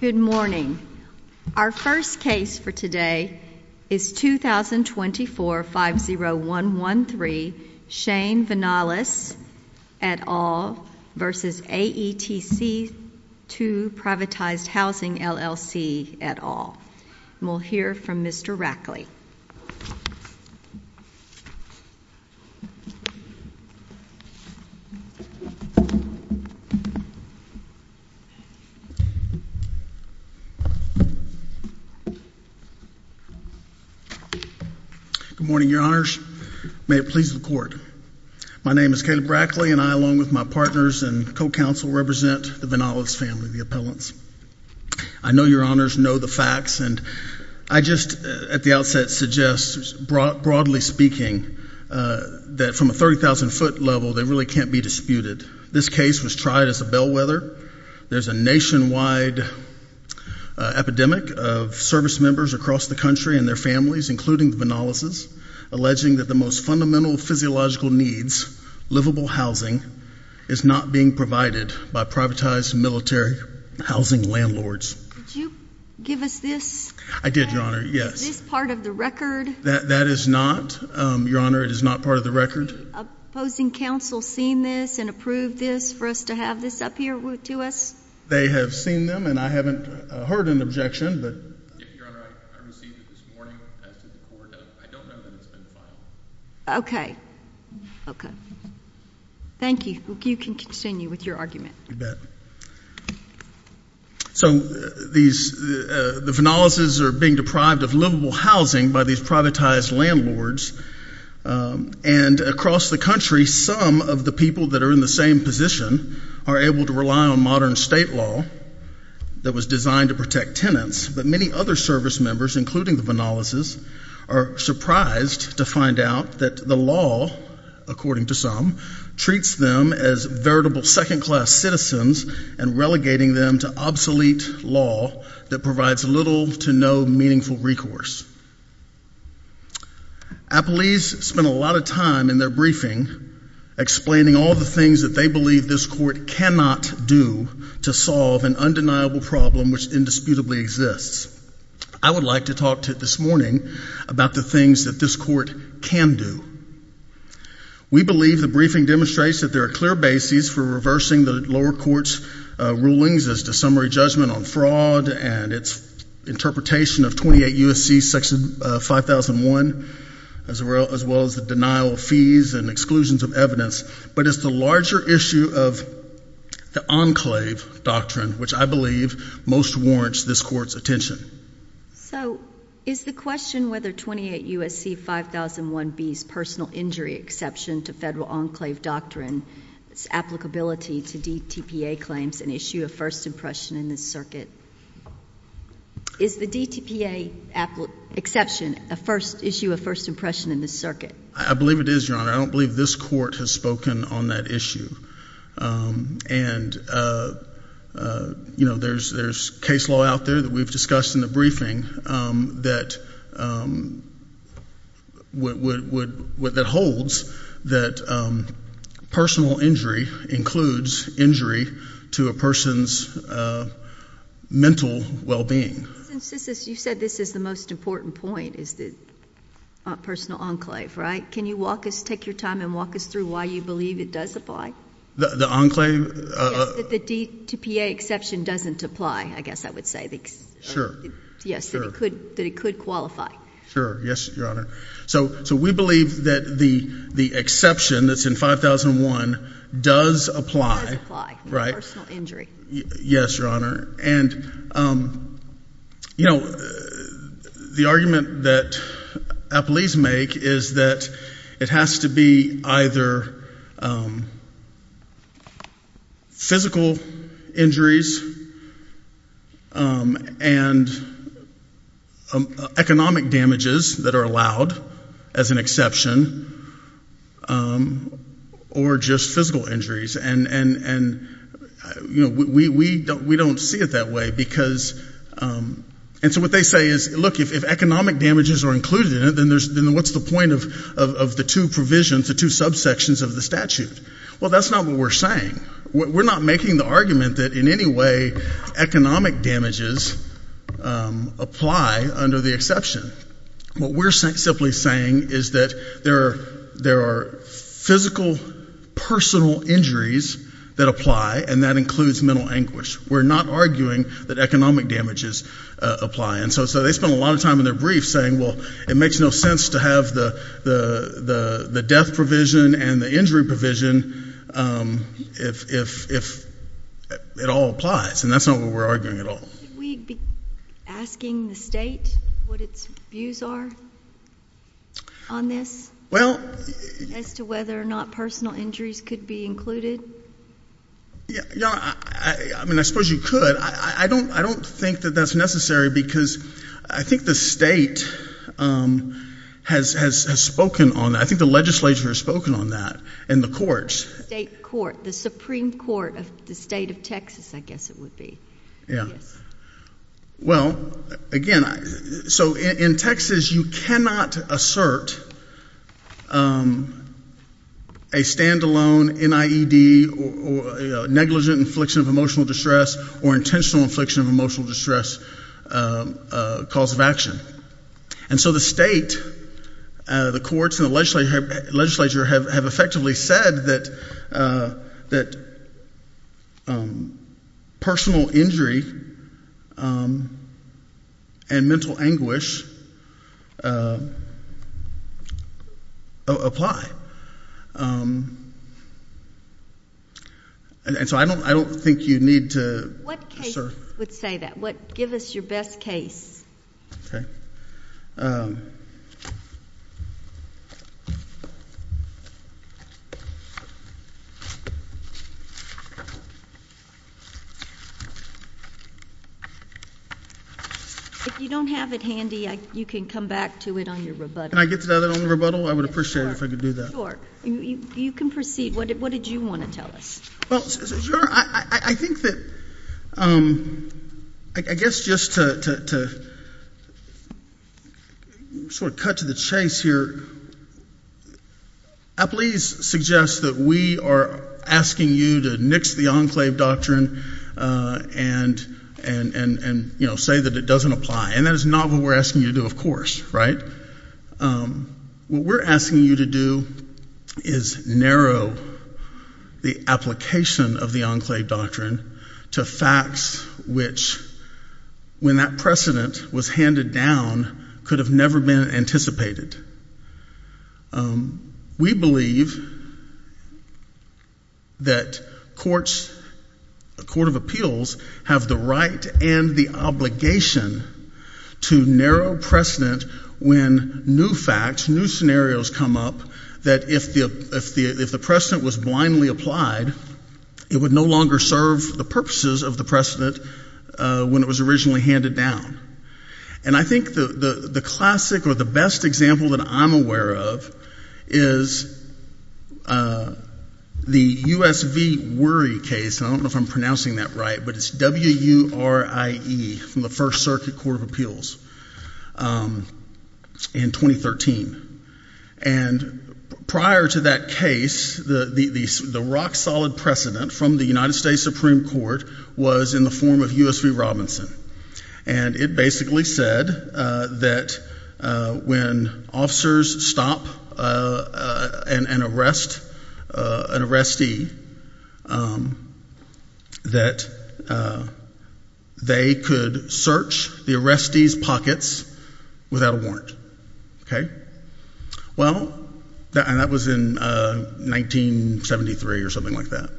Good morning. Our first case for today is 2024-50113 Shane Vinales et al. v. AETC II privatized housing LLC et al. We'll hear from Mr. Rackley. Good morning, your honors. May it please the court. My name is Caleb Rackley and I, along with my partners and co-counsel, represent the Vinales family, the appellants. I know your honors know the facts and I just at the outset suggest, broadly speaking, that from a 30,000-foot level, they really can't be disputed. This case was tried as a bellwether. There's a nationwide epidemic of service members across the country and their families, including the Vinales' alleging that the most fundamental physiological needs, livable housing, is not being provided by privatized military housing landlords. Did you give us this? I did, your honor, yes. Is this part of the record? That is not, your honor. It is not part of the record. Have opposing counsel seen this and approved this for us to have this up here to us? They have seen them and I haven't heard an objection. Your honor, I received it this morning as to the court. I don't know that it's been filed. Okay. Okay. Thank you. You can continue with your argument. You bet. So the Vinales' are being deprived of livable housing by these privatized landlords and across the country, some of the people that are in the same position are able to rely on modern state law that was designed to protect tenants, but many other service members, including the Vinales' are surprised to find out that the law, according to some, treats them as veritable second class citizens and relegating them to obsolete law that provides little to no meaningful recourse. Appellees spend a lot of time in their briefing explaining all the things that they believe this court cannot do to solve an undeniable problem which indisputably exists. I would like to talk to this morning about the things that this court can do. We believe the briefing demonstrates that there are clear bases for reversing the lower U.S.C. Section 5001 as well as the denial of fees and exclusions of evidence, but it's the larger issue of the enclave doctrine which I believe most warrants this court's attention. So is the question whether 28 U.S.C. 5001B's personal injury exception to federal enclave doctrine's applicability to DTPA claims an issue of first impression in this circuit? Is the DTPA exception an issue of first impression in this circuit? I believe it is, Your Honor. I don't believe this court has spoken on that issue. And, you know, there's case law out there that we've discussed in the briefing that holds that personal injury includes injury to a person's mental well-being. You said this is the most important point, is the personal enclave, right? Can you take your time and walk us through why you believe it does apply? The enclave? Yes, that the DTPA exception doesn't apply, I guess I would say. Sure. Yes, that it could qualify. Sure, yes, Your Honor. So we believe that the exception that's in 5001 does apply, right? Does apply, personal injury. Yes, Your Honor. And, you know, the argument that appellees make is that it has to be either physical injuries and economic damages that are allowed as an exception or just physical injuries. And, you know, we don't see it that way because, and so what they say is, look, if economic damages are included in it, then what's the point of the two provisions, the two subsections of the statute? Well, that's not what we're saying. We're not making the argument that in any way economic damages apply under the exception. What we're simply saying is that there are physical personal injuries that apply, and that includes mental anguish. We're not arguing that economic damages apply. And so they spend a lot of time in their briefs saying, well, it makes no sense to have the death provision and the injury provision if it all applies, and that's not what we're arguing at all. Should we be asking the state what its views are on this as to whether or not personal injuries could be included? Your Honor, I mean, I suppose you could. I don't think that that's necessary because I think the state has spoken on that. I think the legislature has spoken on that and the courts. The state court, the Supreme Court of the state of Texas, I guess it would be. Well, again, so in Texas you cannot assert a stand-alone NIED, negligent infliction of emotional distress, or intentional infliction of emotional distress cause of action. And so the state, the courts, and the legislature have effectively said that personal injury and mental anguish apply. And so I don't think you need to assert. What case would say that? Give us your best case. Okay. If you don't have it handy, you can come back to it on your rebuttal. Can I get to that on the rebuttal? I would appreciate it if I could do that. Sure. You can proceed. What did you want to tell us? Well, I think that I guess just to sort of cut to the chase here, I please suggest that we are asking you to nix the enclave doctrine and, you know, say that it doesn't apply. And that is not what we're asking you to do, of course. Right? What we're asking you to do is narrow the application of the enclave doctrine to facts which, when that precedent was handed down, could have never been anticipated. We believe that courts, the Court of Appeals, have the right and the obligation to narrow precedent when new facts, new scenarios come up, that if the precedent was blindly applied, it would no longer serve the purposes of the precedent when it was originally handed down. And I think the classic or the best example that I'm aware of is the U.S. v. Wurie case, and I don't know if I'm pronouncing that right, but it's W-U-R-I-E from the First Circuit Court of Appeals in 2013. And prior to that case, the rock-solid precedent from the United States Supreme Court was in the form of U.S. v. Robinson. And it basically said that when officers stop an arrestee, that they could search the arrestee's pockets without a warrant. Okay? Well, and that was in 1973 or something like that.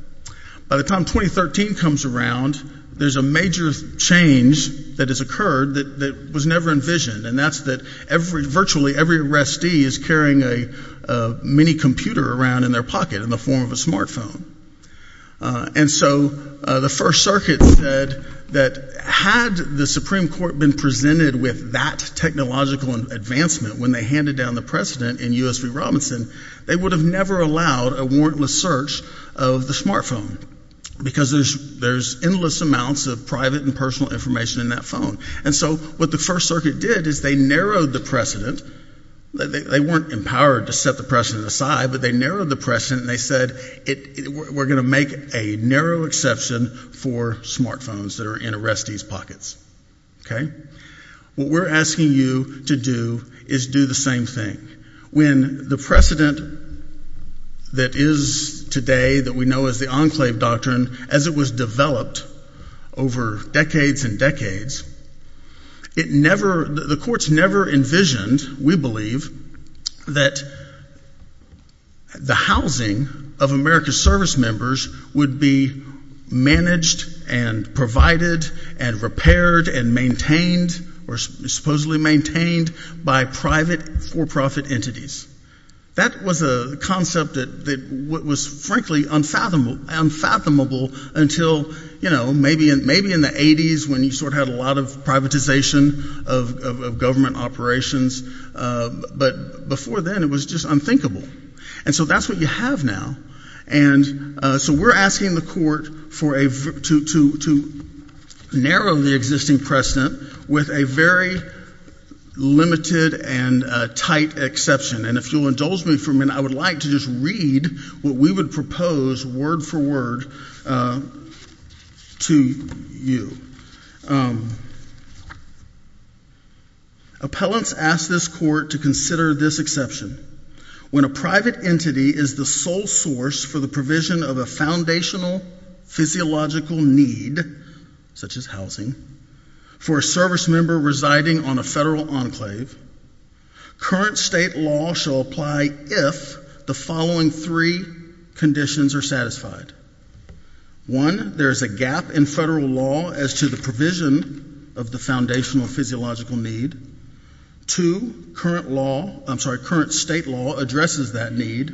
By the time 2013 comes around, there's a major change that has occurred that was never envisioned, and that's that virtually every arrestee is carrying a mini-computer around in their pocket in the form of a smartphone. And so the First Circuit said that had the Supreme Court been presented with that technological advancement when they handed down the precedent in U.S. v. Robinson, they would have never allowed a warrantless search of the smartphone because there's endless amounts of private and personal information in that phone. And so what the First Circuit did is they narrowed the precedent. They weren't empowered to set the precedent aside, but they narrowed the precedent, and they said we're going to make a narrow exception for smartphones that are in arrestees' pockets. Okay? What we're asking you to do is do the same thing. When the precedent that is today that we know as the Enclave Doctrine, as it was developed over decades and decades, the courts never envisioned, we believe, that the housing of America's service members would be managed and provided and repaired and maintained or supposedly maintained by private for-profit entities. That was a concept that was frankly unfathomable until maybe in the 80s when you sort of had a lot of privatization of government operations. But before then, it was just unthinkable. And so that's what you have now. And so we're asking the court to narrow the existing precedent with a very limited and tight exception. And if you'll indulge me for a minute, I would like to just read what we would propose word for word to you. Appellants ask this court to consider this exception. When a private entity is the sole source for the provision of a foundational physiological need, such as housing, for a service member residing on a federal enclave, current state law shall apply if the following three conditions are satisfied. One, there is a gap in federal law as to the provision of the foundational physiological need. Two, current state law addresses that need.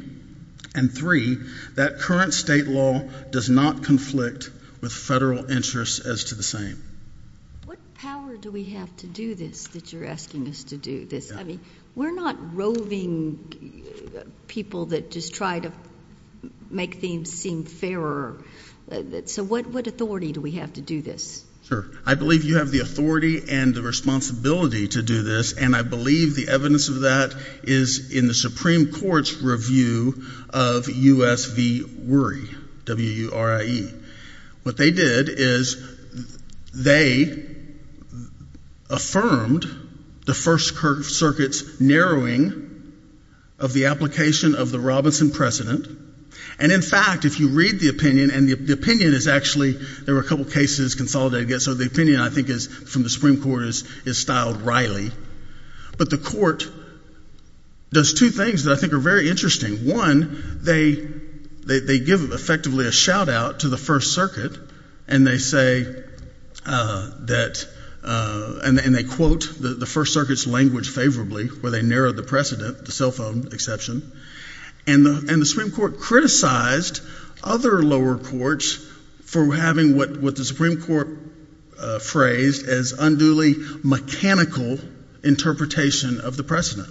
And three, that current state law does not conflict with federal interests as to the same. What power do we have to do this that you're asking us to do this? I mean, we're not roving people that just try to make things seem fairer. So what authority do we have to do this? Sure. I believe you have the authority and the responsibility to do this, and I believe the evidence of that is in the Supreme Court's review of U.S. v. WURI, W-U-R-I-E. What they did is they affirmed the First Circuit's narrowing of the application of the Robinson precedent. And, in fact, if you read the opinion, and the opinion is actually, there were a couple of cases consolidated, so the opinion, I think, from the Supreme Court is styled wryly. But the court does two things that I think are very interesting. One, they give effectively a shout-out to the First Circuit, and they say that, and they quote the First Circuit's language favorably, where they narrowed the precedent, the cell phone exception. And the Supreme Court criticized other lower courts for having what the Supreme Court phrased as unduly mechanical interpretation of the precedent.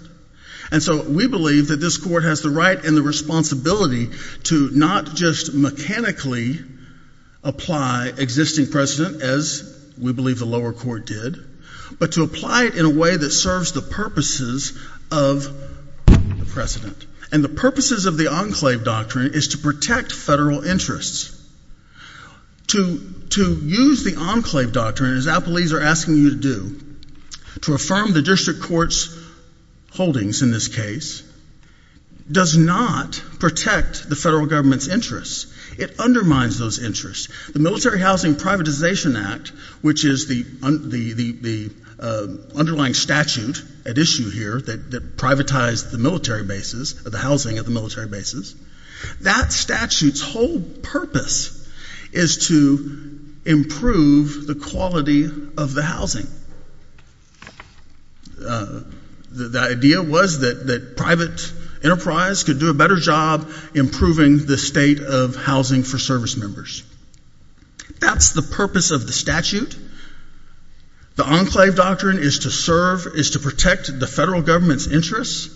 And so we believe that this court has the right and the responsibility to not just mechanically apply existing precedent, as we believe the lower court did, but to apply it in a way that serves the purposes of the precedent. And the purposes of the Enclave Doctrine is to protect federal interests. To use the Enclave Doctrine, as Applebee's are asking you to do, to affirm the district court's holdings in this case, does not protect the federal government's interests. It undermines those interests. The Military Housing Privatization Act, which is the underlying statute at issue here that privatized the military bases, the housing of the military bases, that statute's whole purpose is to improve the quality of the housing. The idea was that private enterprise could do a better job improving the state of housing for service members. That's the purpose of the statute. The Enclave Doctrine is to serve, is to protect the federal government's interests.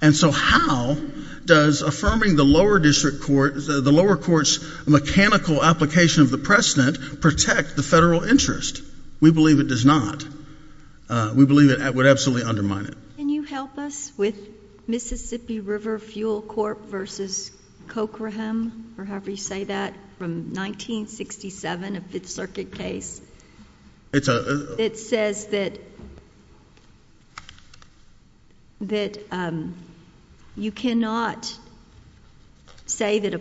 And so how does affirming the lower district court, the lower court's mechanical application of the precedent, protect the federal interest? We believe it does not. We believe it would absolutely undermine it. Can you help us with Mississippi River Fuel Corp. v. Cochraham, or however you say that, from 1967, a Fifth Circuit case? It says that you cannot say that a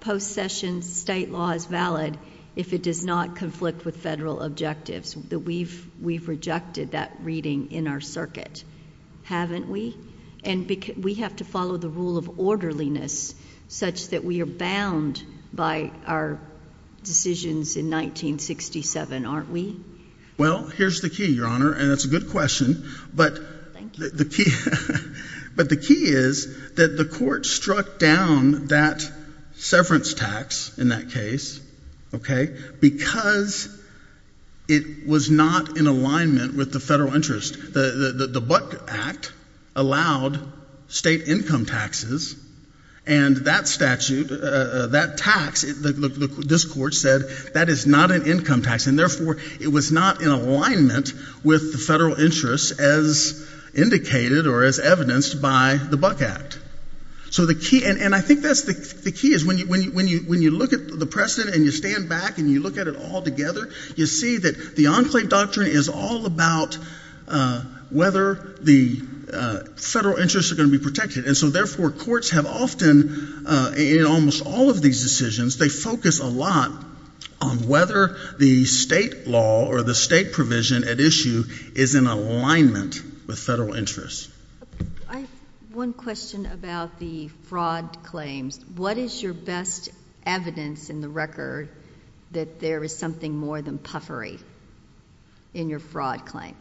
post-session state law is valid if it does not conflict with federal objectives. We've rejected that reading in our circuit, haven't we? And we have to follow the rule of orderliness such that we are bound by our decisions in 1967, aren't we? Well, here's the key, Your Honor, and it's a good question. Thank you. But the key is that the court struck down that severance tax in that case because it was not in alignment with the federal interest. The Buck Act allowed state income taxes, and that statute, that tax, this court said that is not an income tax, and therefore it was not in alignment with the federal interest as indicated or as evidenced by the Buck Act. So the key, and I think that's the key, is when you look at the precedent and you stand back and you look at it all together, you see that the Enclave Doctrine is all about whether the federal interests are going to be protected. And so, therefore, courts have often, in almost all of these decisions, they focus a lot on whether the state law or the state provision at issue is in alignment with federal interests. I have one question about the fraud claims. What is your best evidence in the record that there is something more than puffery in your fraud claim?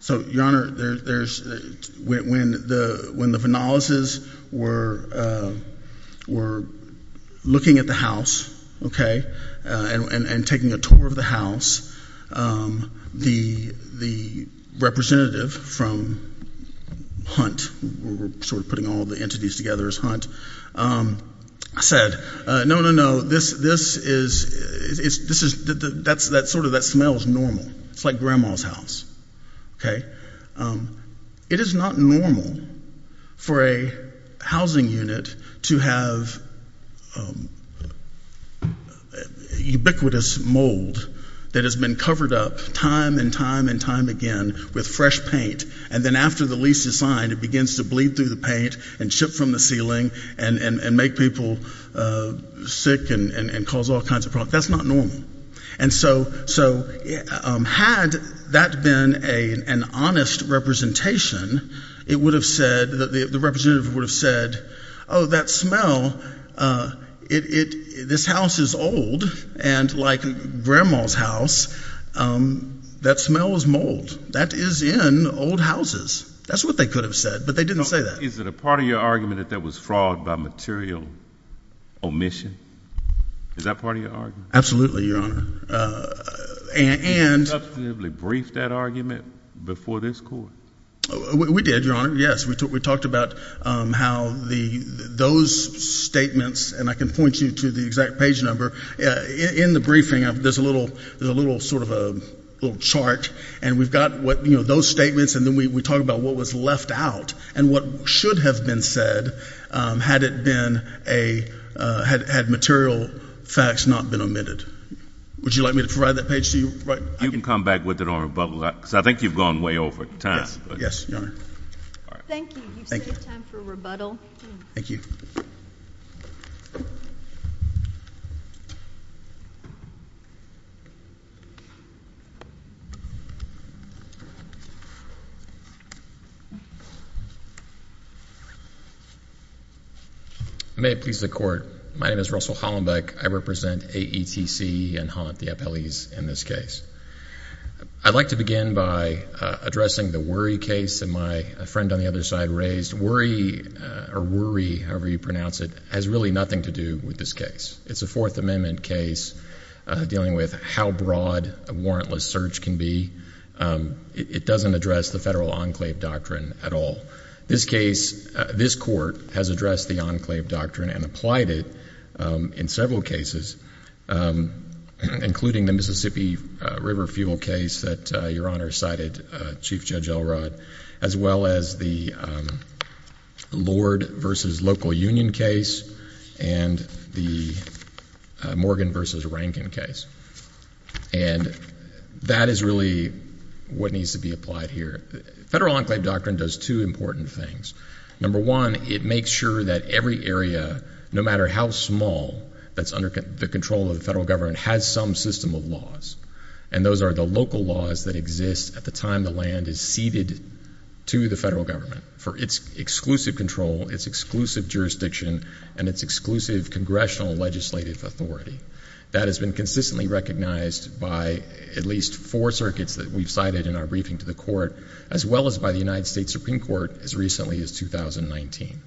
So, Your Honor, when the Vanaleses were looking at the house, okay, and taking a tour of the house, the representative from Hunt, we're sort of putting all the entities together as Hunt, said, No, no, no, this is, this is, that's sort of, that smells normal. It's like grandma's house, okay. It is not normal for a housing unit to have ubiquitous mold that has been covered up time and time and time again with fresh paint, and then after the lease is signed, it begins to bleed through the paint and chip from the ceiling and make people sick and cause all kinds of problems. That's not normal. And so, had that been an honest representation, it would have said, the representative would have said, Oh, that smell, this house is old, and like grandma's house, that smell is mold. That is in old houses. That's what they could have said, but they didn't say that. Is it a part of your argument that that was fraud by material omission? Is that part of your argument? Absolutely, Your Honor, and Did you substantively brief that argument before this Court? We did, Your Honor, yes. We talked about how those statements, and I can point you to the exact page number, in the briefing, there's a little sort of a little chart, and we've got those statements, and then we talk about what was left out and what should have been said had material facts not been omitted. Would you like me to provide that page to you? You can come back with it on rebuttal, because I think you've gone way over time. Yes, Your Honor. Thank you. You've saved time for rebuttal. Thank you. May it please the Court, my name is Russell Hollenbeck. I represent AETC and Haunt, the appellees, in this case. I'd like to begin by addressing the Worry case that my friend on the other side raised. This Worry, or Worry, however you pronounce it, has really nothing to do with this case. It's a Fourth Amendment case dealing with how broad a warrantless search can be. It doesn't address the federal enclave doctrine at all. This case, this Court has addressed the enclave doctrine and applied it in several cases, including the Mississippi River fuel case that Your Honor cited, Chief Judge Elrod, as well as the Lord v. Local Union case and the Morgan v. Rankin case. And that is really what needs to be applied here. Federal enclave doctrine does two important things. Number one, it makes sure that every area, no matter how small, that's under the control of the federal government, has some system of laws. And those are the local laws that exist at the time the land is ceded to the federal government for its exclusive control, its exclusive jurisdiction, and its exclusive congressional legislative authority. That has been consistently recognized by at least four circuits that we've cited in our briefing to the Court, as well as by the United States Supreme Court as recently as 2019.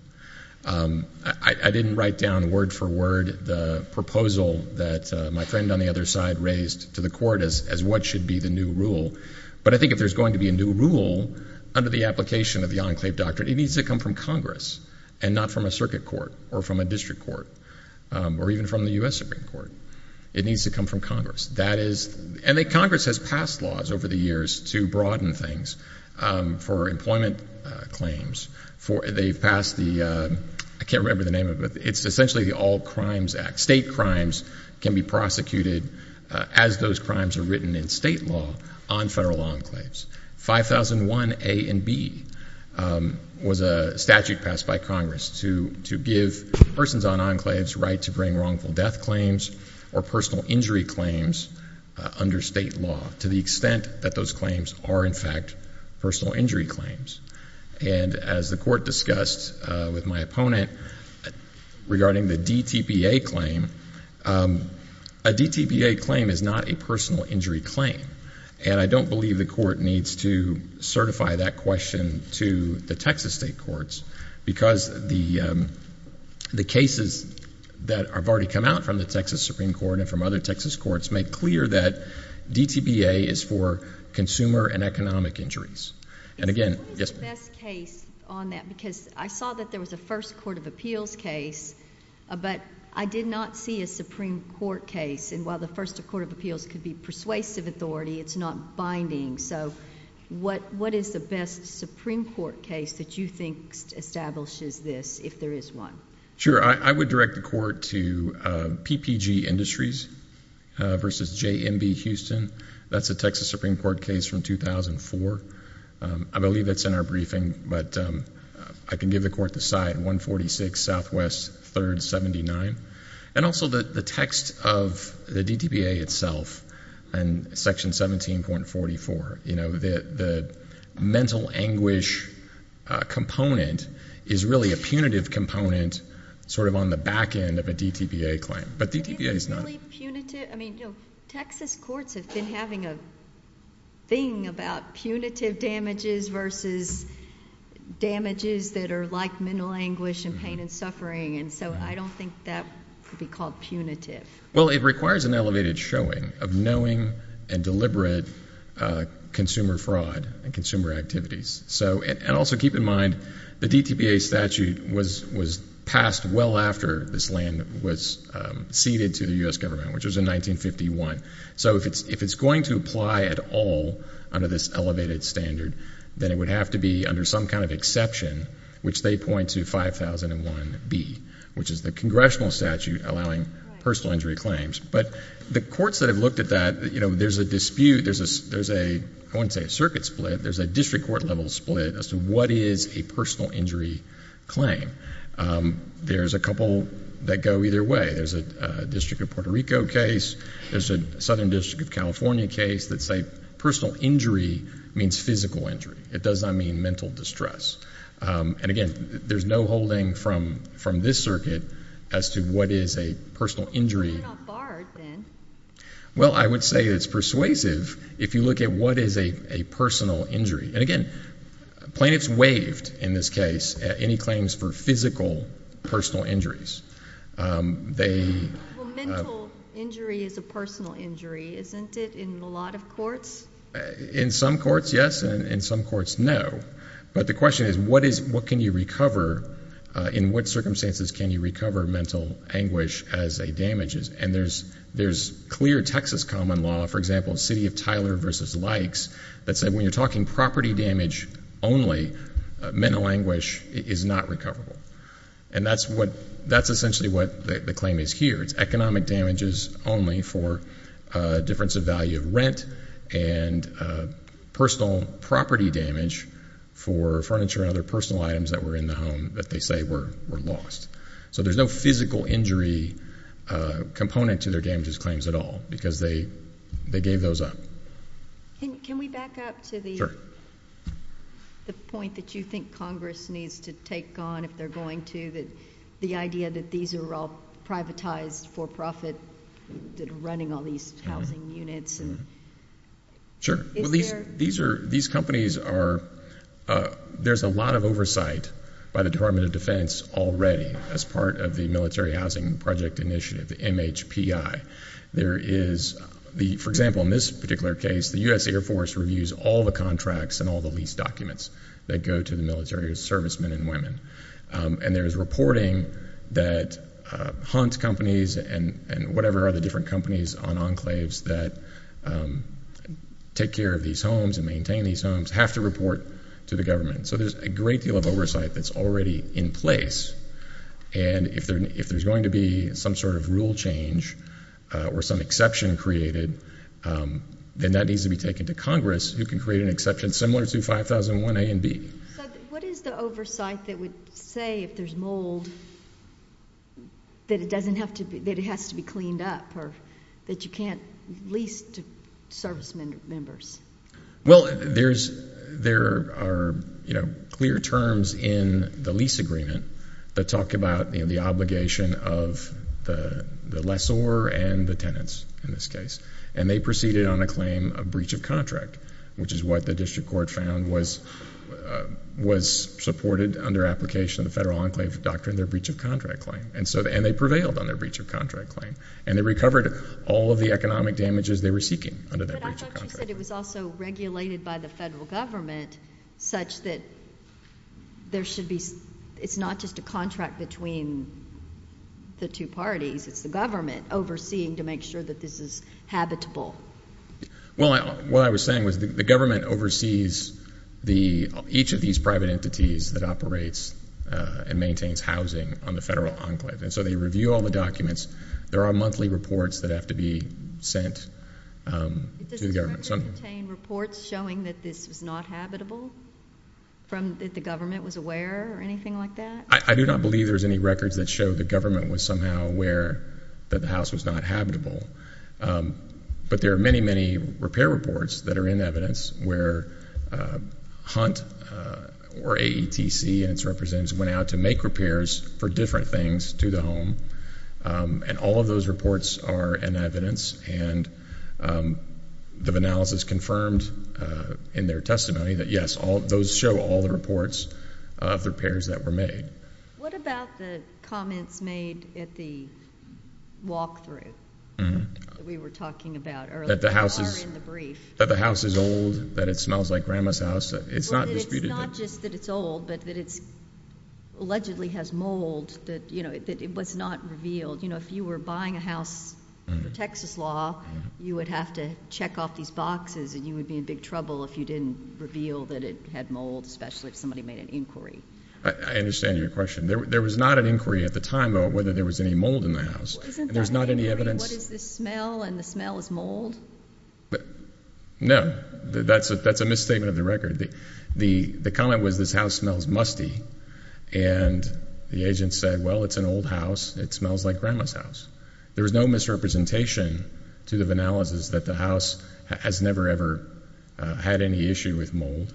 I didn't write down word for word the proposal that my friend on the other side raised to the Court as what should be the new rule. But I think if there's going to be a new rule under the application of the enclave doctrine, it needs to come from Congress and not from a circuit court or from a district court or even from the U.S. Supreme Court. It needs to come from Congress. And Congress has passed laws over the years to broaden things for employment claims. They've passed the, I can't remember the name of it, but it's essentially the All Crimes Act. State crimes can be prosecuted as those crimes are written in state law on federal enclaves. 5001 A and B was a statute passed by Congress to give persons on enclaves right to bring wrongful death claims or personal injury claims under state law to the extent that those claims are, in fact, personal injury claims. And as the Court discussed with my opponent regarding the DTBA claim, a DTBA claim is not a personal injury claim. And I don't believe the Court needs to certify that question to the Texas state courts because the cases that have already come out from the Texas Supreme Court and from other Texas courts make clear that DTBA is for consumer and economic injuries. And again, yes, ma'am. What is the best case on that? Because I saw that there was a first court of appeals case, but I did not see a Supreme Court case. And while the first court of appeals could be persuasive authority, it's not binding. So what is the best Supreme Court case that you think establishes this if there is one? Sure. I would direct the Court to PPG Industries versus JMB Houston. That's a Texas Supreme Court case from 2004. I believe that's in our briefing, but I can give the Court the side, 146 Southwest 3rd 79. And also the text of the DTBA itself in Section 17.44, you know, the mental anguish component is really a punitive component sort of on the back end of a DTBA claim. But DTBA is not. I mean, you know, Texas courts have been having a thing about punitive damages versus damages that are like mental anguish and pain and suffering. And so I don't think that could be called punitive. Well, it requires an elevated showing of knowing and deliberate consumer fraud and consumer activities. And also keep in mind the DTBA statute was passed well after this land was ceded to the U.S. government, which was in 1951. So if it's going to apply at all under this elevated standard, then it would have to be under some kind of exception, which they point to 5001B, which is the congressional statute allowing personal injury claims. But the courts that have looked at that, you know, there's a dispute. There's a, I wouldn't say a circuit split. There's a district court level split as to what is a personal injury claim. There's a couple that go either way. There's a District of Puerto Rico case. There's a Southern District of California case that say personal injury means physical injury. It does not mean mental distress. And, again, there's no holding from this circuit as to what is a personal injury. Well, I would say it's persuasive. If you look at what is a personal injury. And, again, plaintiffs waived, in this case, any claims for physical personal injuries. Well, mental injury is a personal injury, isn't it, in a lot of courts? In some courts, yes. In some courts, no. But the question is what can you recover, in what circumstances can you recover mental anguish as a damage? And there's clear Texas common law, for example, City of Tyler v. Likes, that say when you're talking property damage only, mental anguish is not recoverable. And that's essentially what the claim is here. It's economic damages only for difference of value of rent and personal property damage for furniture and other personal items that were in the home that they say were lost. So there's no physical injury component to their damages claims at all because they gave those up. Can we back up to the point that you think Congress needs to take on, if they're going to, the idea that these are all privatized for profit, running all these housing units? Sure. These companies are, there's a lot of oversight by the Department of Defense already as part of the Military Housing Project Initiative, the MHPI. There is, for example, in this particular case, the U.S. Air Force reviews all the contracts and all the lease documents that go to the military servicemen and women. And there's reporting that hunt companies and whatever are the different companies on enclaves that take care of these homes and maintain these homes have to report to the government. So there's a great deal of oversight that's already in place. And if there's going to be some sort of rule change or some exception created, then that needs to be taken to Congress who can create an exception similar to 5001 A and B. So what is the oversight that would say if there's mold that it doesn't have to be, that it has to be cleaned up or that you can't lease to servicemen or members? Well, there are clear terms in the lease agreement that talk about the obligation of the lessor and the tenants in this case. And they proceeded on a claim of breach of contract, which is what the district court found was supported under application of the Federal Enclave Doctrine, their breach of contract claim. And they prevailed on their breach of contract claim. And they recovered all of the economic damages they were seeking under that breach of contract claim. But I thought you said it was also regulated by the federal government such that there should be – it's not just a contract between the two parties. It's the government overseeing to make sure that this is habitable. Well, what I was saying was the government oversees each of these private entities that operates and maintains housing on the Federal Enclave. And so they review all the documents. There are monthly reports that have to be sent to the government. Does the record contain reports showing that this was not habitable, that the government was aware or anything like that? I do not believe there's any records that show the government was somehow aware that the house was not habitable. But there are many, many repair reports that are in evidence where Hunt or AETC and its representatives went out to make repairs for different things to the home. And all of those reports are in evidence. And the analysis confirmed in their testimony that, yes, those show all the reports of the repairs that were made. What about the comments made at the walkthrough that we were talking about earlier? That the house is old, that it smells like Grandma's house? It's not disputed. Well, that it's not just that it's old, but that it allegedly has mold, that it was not revealed. If you were buying a house under Texas law, you would have to check off these boxes, and you would be in big trouble if you didn't reveal that it had mold, especially if somebody made an inquiry. I understand your question. There was not an inquiry at the time about whether there was any mold in the house. Isn't that an inquiry? There's not any evidence. What is this smell, and the smell is mold? No. That's a misstatement of the record. The comment was this house smells musty, and the agent said, well, it's an old house. It smells like Grandma's house. There was no misrepresentation to the analysis that the house has never, ever had any issue with mold.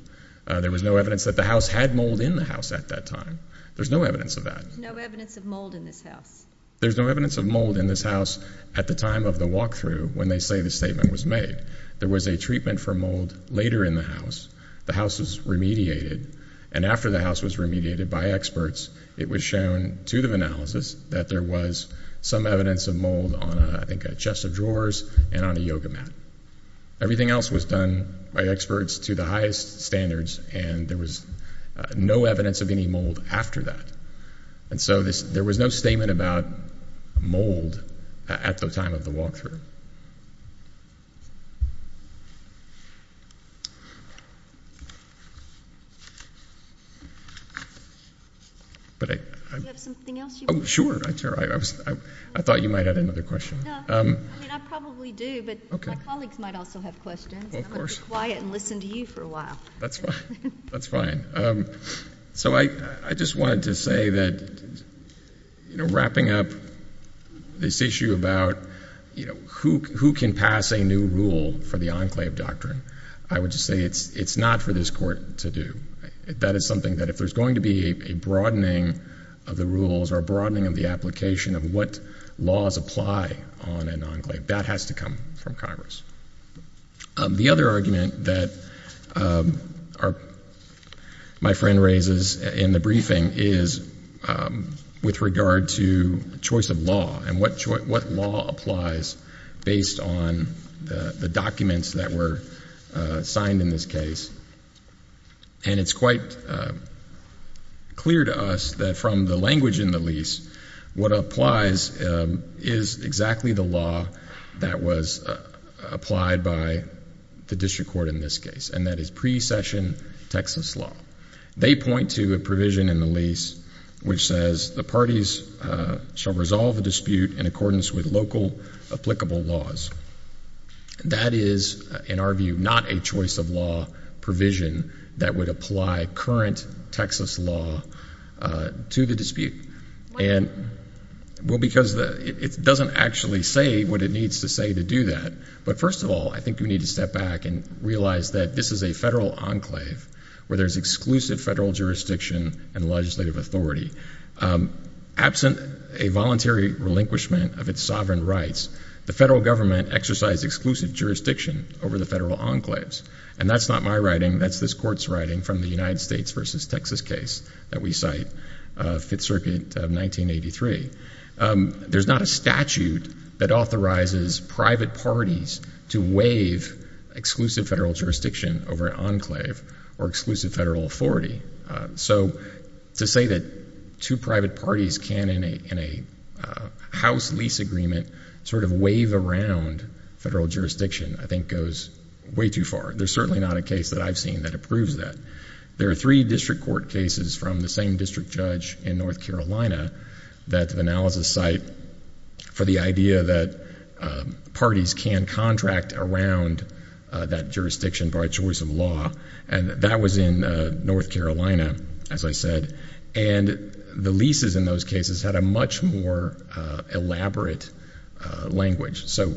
There was no evidence that the house had mold in the house at that time. There's no evidence of that. There's no evidence of mold in this house. There's no evidence of mold in this house at the time of the walkthrough when they say the statement was made. There was a treatment for mold later in the house. The house was remediated, and after the house was remediated by experts, it was shown to the analysis that there was some evidence of mold on, I think, a chest of drawers and on a yoga mat. Everything else was done by experts to the highest standards, and there was no evidence of any mold after that. And so there was no statement about mold at the time of the walkthrough. Do you have something else you want to add? Sure. I thought you might have another question. No. I mean, I probably do, but my colleagues might also have questions, and I'm going to be quiet and listen to you for a while. That's fine. That's fine. So I just wanted to say that, you know, wrapping up this issue about, you know, who can pass a new rule for the enclave doctrine, I would just say it's not for this court to do. That is something that if there's going to be a broadening of the rules or a broadening of the application of what laws apply on an enclave, that has to come from Congress. The other argument that my friend raises in the briefing is with regard to choice of law and what law applies based on the documents that were signed in this case, and it's quite clear to us that from the language in the lease, what applies is exactly the law that was applied by the district court in this case, and that is precession Texas law. They point to a provision in the lease which says the parties shall resolve the dispute in accordance with local applicable laws. That is, in our view, not a choice of law provision that would apply current Texas law to the dispute. Why not? Well, because it doesn't actually say what it needs to say to do that. But first of all, I think we need to step back and realize that this is a federal enclave where there's exclusive federal jurisdiction and legislative authority. Absent a voluntary relinquishment of its sovereign rights, the federal government exercised exclusive jurisdiction over the federal enclaves, and that's not my writing. That's this court's writing from the United States v. Texas case that we cite, Fifth Circuit of 1983. There's not a statute that authorizes private parties to waive exclusive federal jurisdiction over an enclave or exclusive federal authority. So to say that two private parties can, in a House lease agreement, sort of waive around federal jurisdiction I think goes way too far. There's certainly not a case that I've seen that approves that. There are three district court cases from the same district judge in North Carolina that analysis cite for the idea that parties can contract around that jurisdiction by choice of law, and that was in North Carolina, as I said. And the leases in those cases had a much more elaborate language. So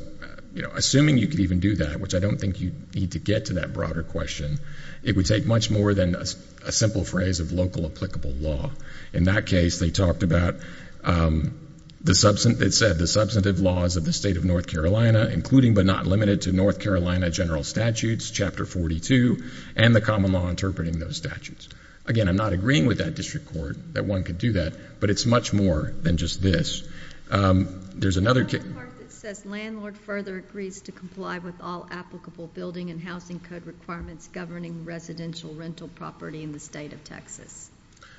assuming you could even do that, which I don't think you need to get to that broader question, it would take much more than a simple phrase of local applicable law. In that case, they talked about the substantive laws of the state of North Carolina, including but not limited to North Carolina general statutes, Chapter 42, and the common law interpreting those statutes. Again, I'm not agreeing with that district court that one could do that, but it's much more than just this. There's another case. There's another part that says landlord further agrees to comply with all applicable building and housing code requirements governing residential rental property in the state of Texas.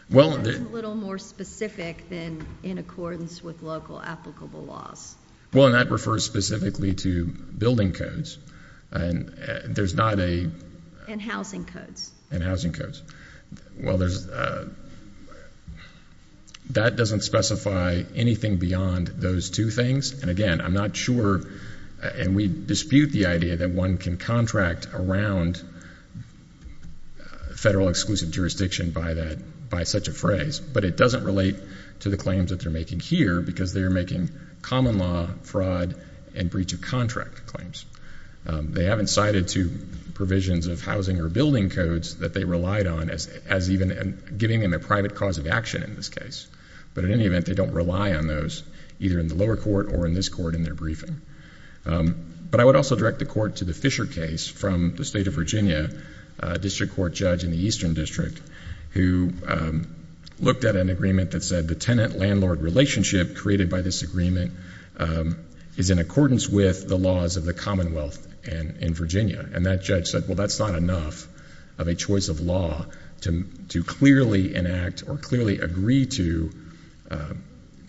That's a little more specific than in accordance with local applicable laws. Well, and that refers specifically to building codes. And there's not a – And housing codes. And housing codes. Well, there's – that doesn't specify anything beyond those two things. And, again, I'm not sure – and we dispute the idea that one can contract around federal exclusive jurisdiction by that – by such a phrase. But it doesn't relate to the claims that they're making here because they're making common law, fraud, and breach of contract claims. They haven't cited two provisions of housing or building codes that they relied on as even giving them a private cause of action in this case. But in any event, they don't rely on those either in the lower court or in this court in their briefing. But I would also direct the court to the Fisher case from the state of Virginia, district court judge in the eastern district, who looked at an agreement that said the tenant-landlord relationship created by this agreement is in accordance with the laws of the commonwealth in Virginia. And that judge said, well, that's not enough of a choice of law to clearly enact or clearly agree to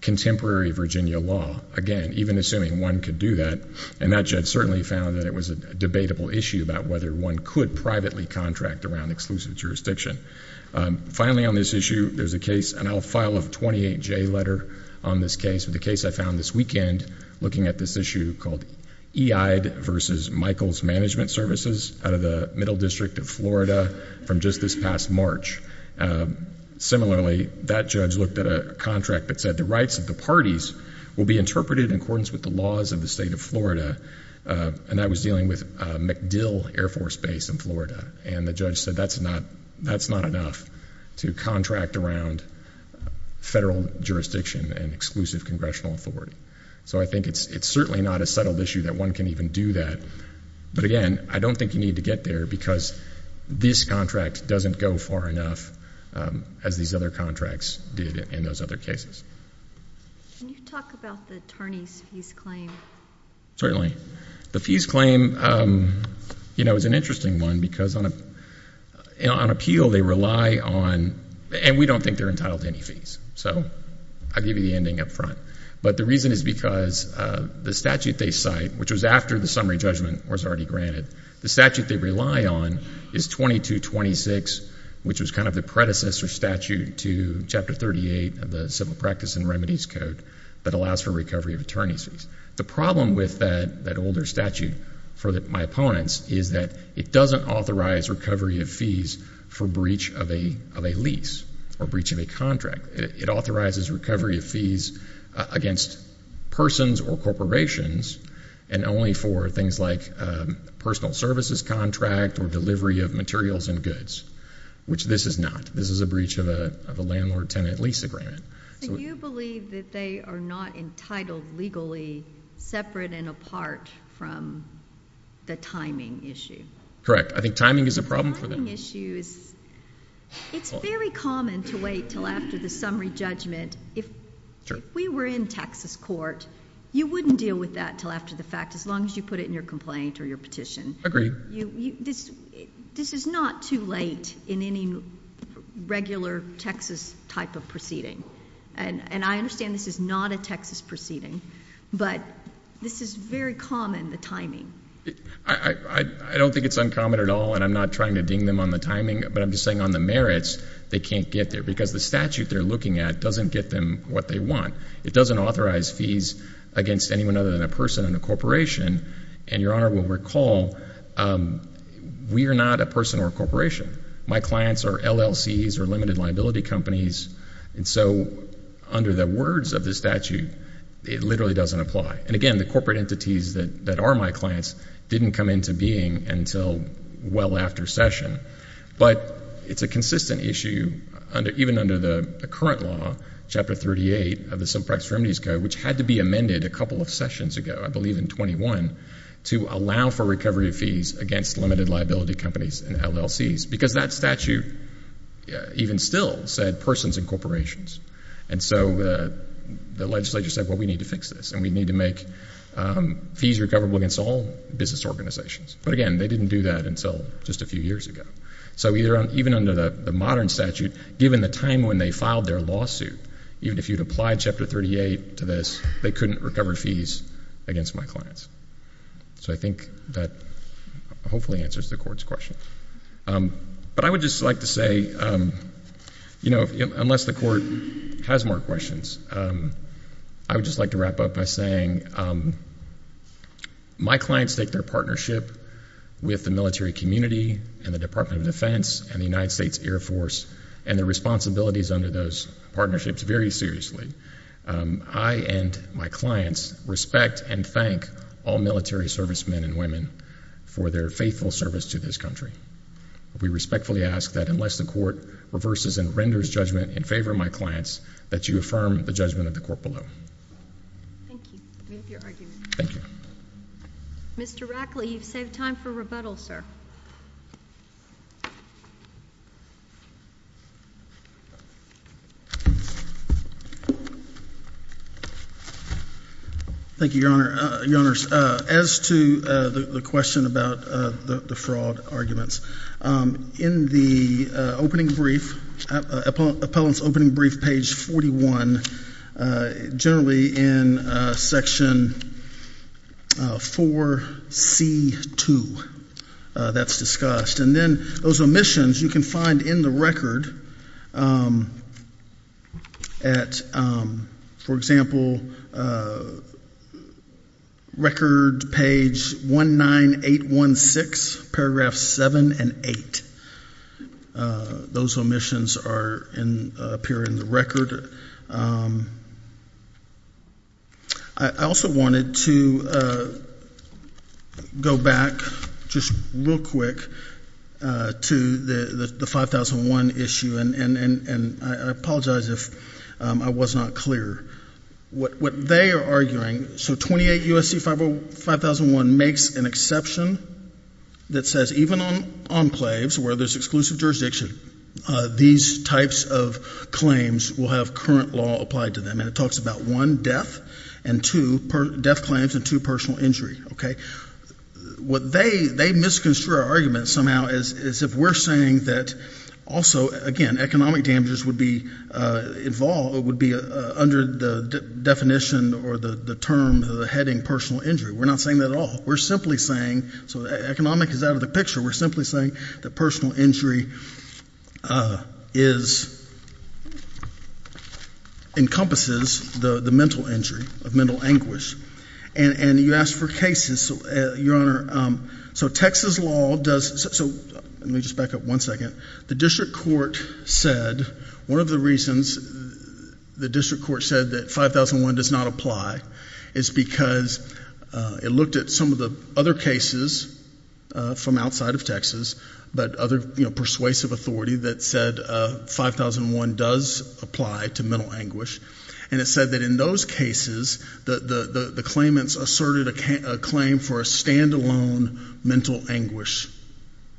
contemporary Virginia law. Again, even assuming one could do that. And that judge certainly found that it was a debatable issue about whether one could privately contract around exclusive jurisdiction. Finally, on this issue, there's a case – and I'll file a 28J letter on this case – but the case I found this weekend looking at this issue called Eide v. Michaels Management Services out of the Middle District of Florida from just this past March. Similarly, that judge looked at a contract that said the rights of the parties will be interpreted in accordance with the laws of the state of Florida. And that was dealing with MacDill Air Force Base in Florida. And the judge said that's not enough to contract around federal jurisdiction and exclusive congressional authority. So I think it's certainly not a settled issue that one can even do that. But again, I don't think you need to get there because this contract doesn't go far enough as these other contracts did in those other cases. Can you talk about the Tarny's fees claim? Certainly. The fees claim is an interesting one because on appeal they rely on – and we don't think they're entitled to any fees. So I'll give you the ending up front. But the reason is because the statute they cite, which was after the summary judgment was already granted, the statute they rely on is 2226, which was kind of the predecessor statute to Chapter 38 of the Civil Practice and Remedies Code that allows for recovery of attorney's fees. The problem with that older statute for my opponents is that it doesn't authorize recovery of fees for breach of a lease or breach of a contract. It authorizes recovery of fees against persons or corporations and only for things like personal services contract or delivery of materials and goods, which this is not. This is a breach of a landlord-tenant lease agreement. So you believe that they are not entitled legally separate and apart from the timing issue? Correct. I think timing is a problem for them. It's very common to wait until after the summary judgment. If we were in Texas court, you wouldn't deal with that until after the fact as long as you put it in your complaint or your petition. This is not too late in any regular Texas type of proceeding. And I understand this is not a Texas proceeding, but this is very common, the timing. I don't think it's uncommon at all, and I'm not trying to ding them on the timing, but I'm just saying on the merits, they can't get there because the statute they're looking at doesn't get them what they want. It doesn't authorize fees against anyone other than a person and a corporation. And Your Honor will recall, we are not a person or a corporation. My clients are LLCs or limited liability companies. And so under the words of the statute, it literally doesn't apply. And again, the corporate entities that are my clients didn't come into being until well after session. But it's a consistent issue even under the current law, Chapter 38 of the Civil Practice Remedies Code, which had to be amended a couple of sessions ago, I believe in 21, to allow for recovery of fees against limited liability companies and LLCs. Because that statute even still said persons and corporations. And so the legislature said, well, we need to fix this, and we need to make fees recoverable against all business organizations. But again, they didn't do that until just a few years ago. So even under the modern statute, given the time when they filed their lawsuit, even if you'd applied Chapter 38 to this, they couldn't recover fees against my clients. So I think that hopefully answers the Court's question. But I would just like to say, you know, unless the Court has more questions, I would just like to wrap up by saying my clients take their partnership with the military community and the Department of Defense and the United States Air Force and their responsibilities under those partnerships very seriously. I and my clients respect and thank all military servicemen and women for their faithful service to this country. We respectfully ask that unless the Court reverses and renders judgment in favor of my clients, that you affirm the judgment of the Court below. Thank you. We appreciate your argument. Thank you. Mr. Rackley, you've saved time for rebuttal, sir. Thank you, Your Honor. Your Honors, as to the question about the fraud arguments, in the opening brief, appellant's opening brief, page 41, generally in section 4C2, that's discussed. And then those omissions you can find in the record at, for example, record page 19816, paragraphs 7 and 8. Those omissions appear in the record. I also wanted to go back just real quick to the 5001 issue, and I apologize if I was not clear. What they are arguing, so 28 U.S.C. 5001 makes an exception that says even on enclaves where there's exclusive jurisdiction, these types of claims will have current law applied to them. And it talks about one, death, and two, death claims and two, personal injury. What they, they misconstrue our argument somehow as if we're saying that also, again, economic damages would be involved, would be under the definition or the term, the heading personal injury. We're not saying that at all. We're simply saying, so economic is out of the picture. We're simply saying that personal injury is, encompasses the mental injury of mental anguish. And you asked for cases. So, Your Honor, so Texas law does, so let me just back up one second. The district court said, one of the reasons the district court said that 5001 does not apply is because it looked at some of the other cases from outside of Texas, but other, you know, persuasive authority that said 5001 does apply to mental anguish. And it said that in those cases, the claimants asserted a claim for a stand-alone mental anguish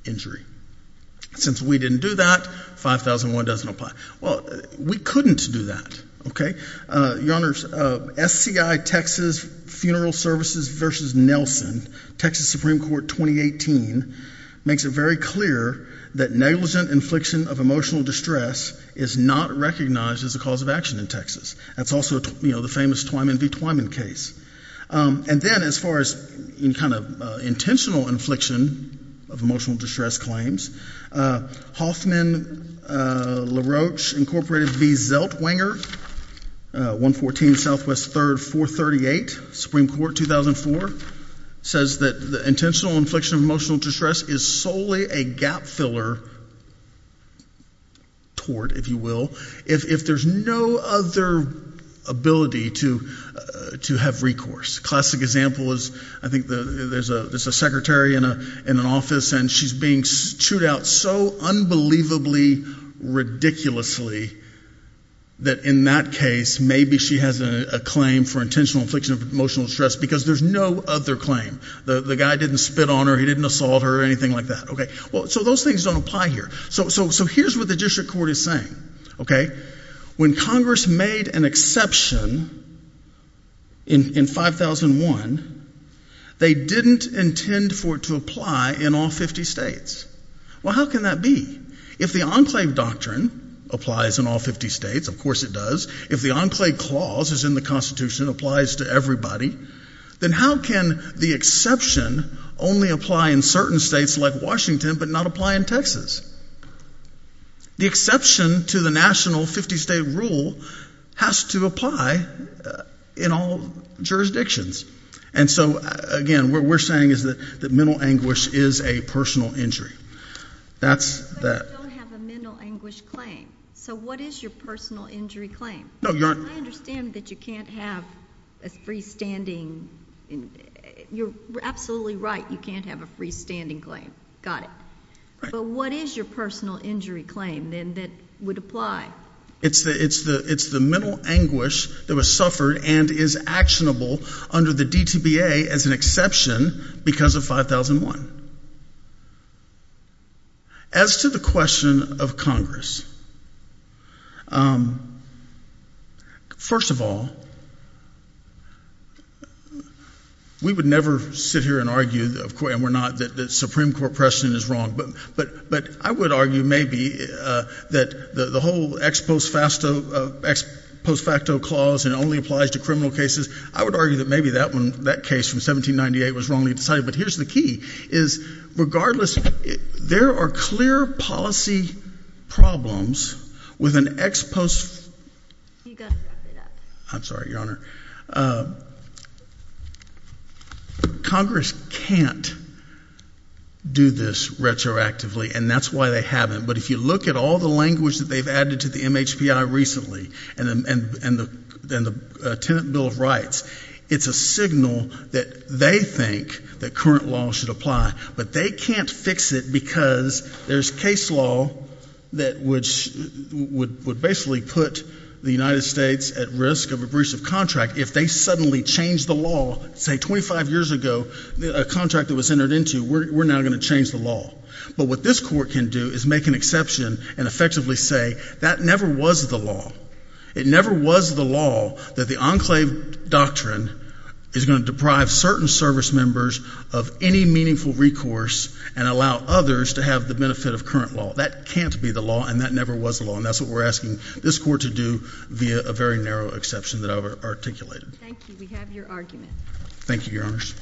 injury. Since we didn't do that, 5001 doesn't apply. Well, we couldn't do that, okay? Your Honor, SCI Texas Funeral Services versus Nelson, Texas Supreme Court 2018, makes it very clear that negligent infliction of emotional distress is not recognized as a cause of action in Texas. That's also, you know, the famous Twyman v. Twyman case. And then, as far as any kind of intentional infliction of emotional distress claims, Hoffman, LaRoche, Incorporated v. Zeltwanger, 114 Southwest 3rd 438, Supreme Court 2004, says that the intentional infliction of emotional distress is solely a gap filler tort, if you will, if there's no other ability to have recourse. This classic example is, I think there's a secretary in an office, and she's being chewed out so unbelievably ridiculously that in that case, maybe she has a claim for intentional infliction of emotional distress because there's no other claim. The guy didn't spit on her, he didn't assault her, anything like that, okay? So those things don't apply here. So here's what the district court is saying, okay? When Congress made an exception in 5001, they didn't intend for it to apply in all 50 states. Well, how can that be? If the Enclave Doctrine applies in all 50 states, of course it does, if the Enclave Clause is in the Constitution, applies to everybody, then how can the exception only apply in certain states like Washington but not apply in Texas? The exception to the national 50-state rule has to apply in all jurisdictions. And so, again, what we're saying is that mental anguish is a personal injury. But you don't have a mental anguish claim. So what is your personal injury claim? I understand that you can't have a freestanding. You're absolutely right, you can't have a freestanding claim. Got it. But what is your personal injury claim then that would apply? It's the mental anguish that was suffered and is actionable under the DTBA as an exception because of 5001. As to the question of Congress, first of all, we would never sit here and argue, of course, and we're not, that the Supreme Court precedent is wrong. But I would argue maybe that the whole ex post facto clause and it only applies to criminal cases, I would argue that maybe that case from 1798 was wrongly decided. But here's the key, is regardless, there are clear policy problems with an ex post. You've got to wrap it up. I'm sorry, Your Honor. Congress can't do this retroactively, and that's why they haven't. But if you look at all the language that they've added to the MHPI recently and the Tenant Bill of Rights, it's a signal that they think that current law should apply. But they can't fix it because there's case law that would basically put the United States at risk of abrusive contract if they suddenly change the law, say 25 years ago, a contract that was entered into, we're now going to change the law. But what this Court can do is make an exception and effectively say that never was the law. It never was the law that the enclave doctrine is going to deprive certain service members of any meaningful recourse and allow others to have the benefit of current law. That can't be the law, and that never was the law. And that's what we're asking this Court to do via a very narrow exception that I've articulated. Thank you. We have your argument. Thank you, Your Honors.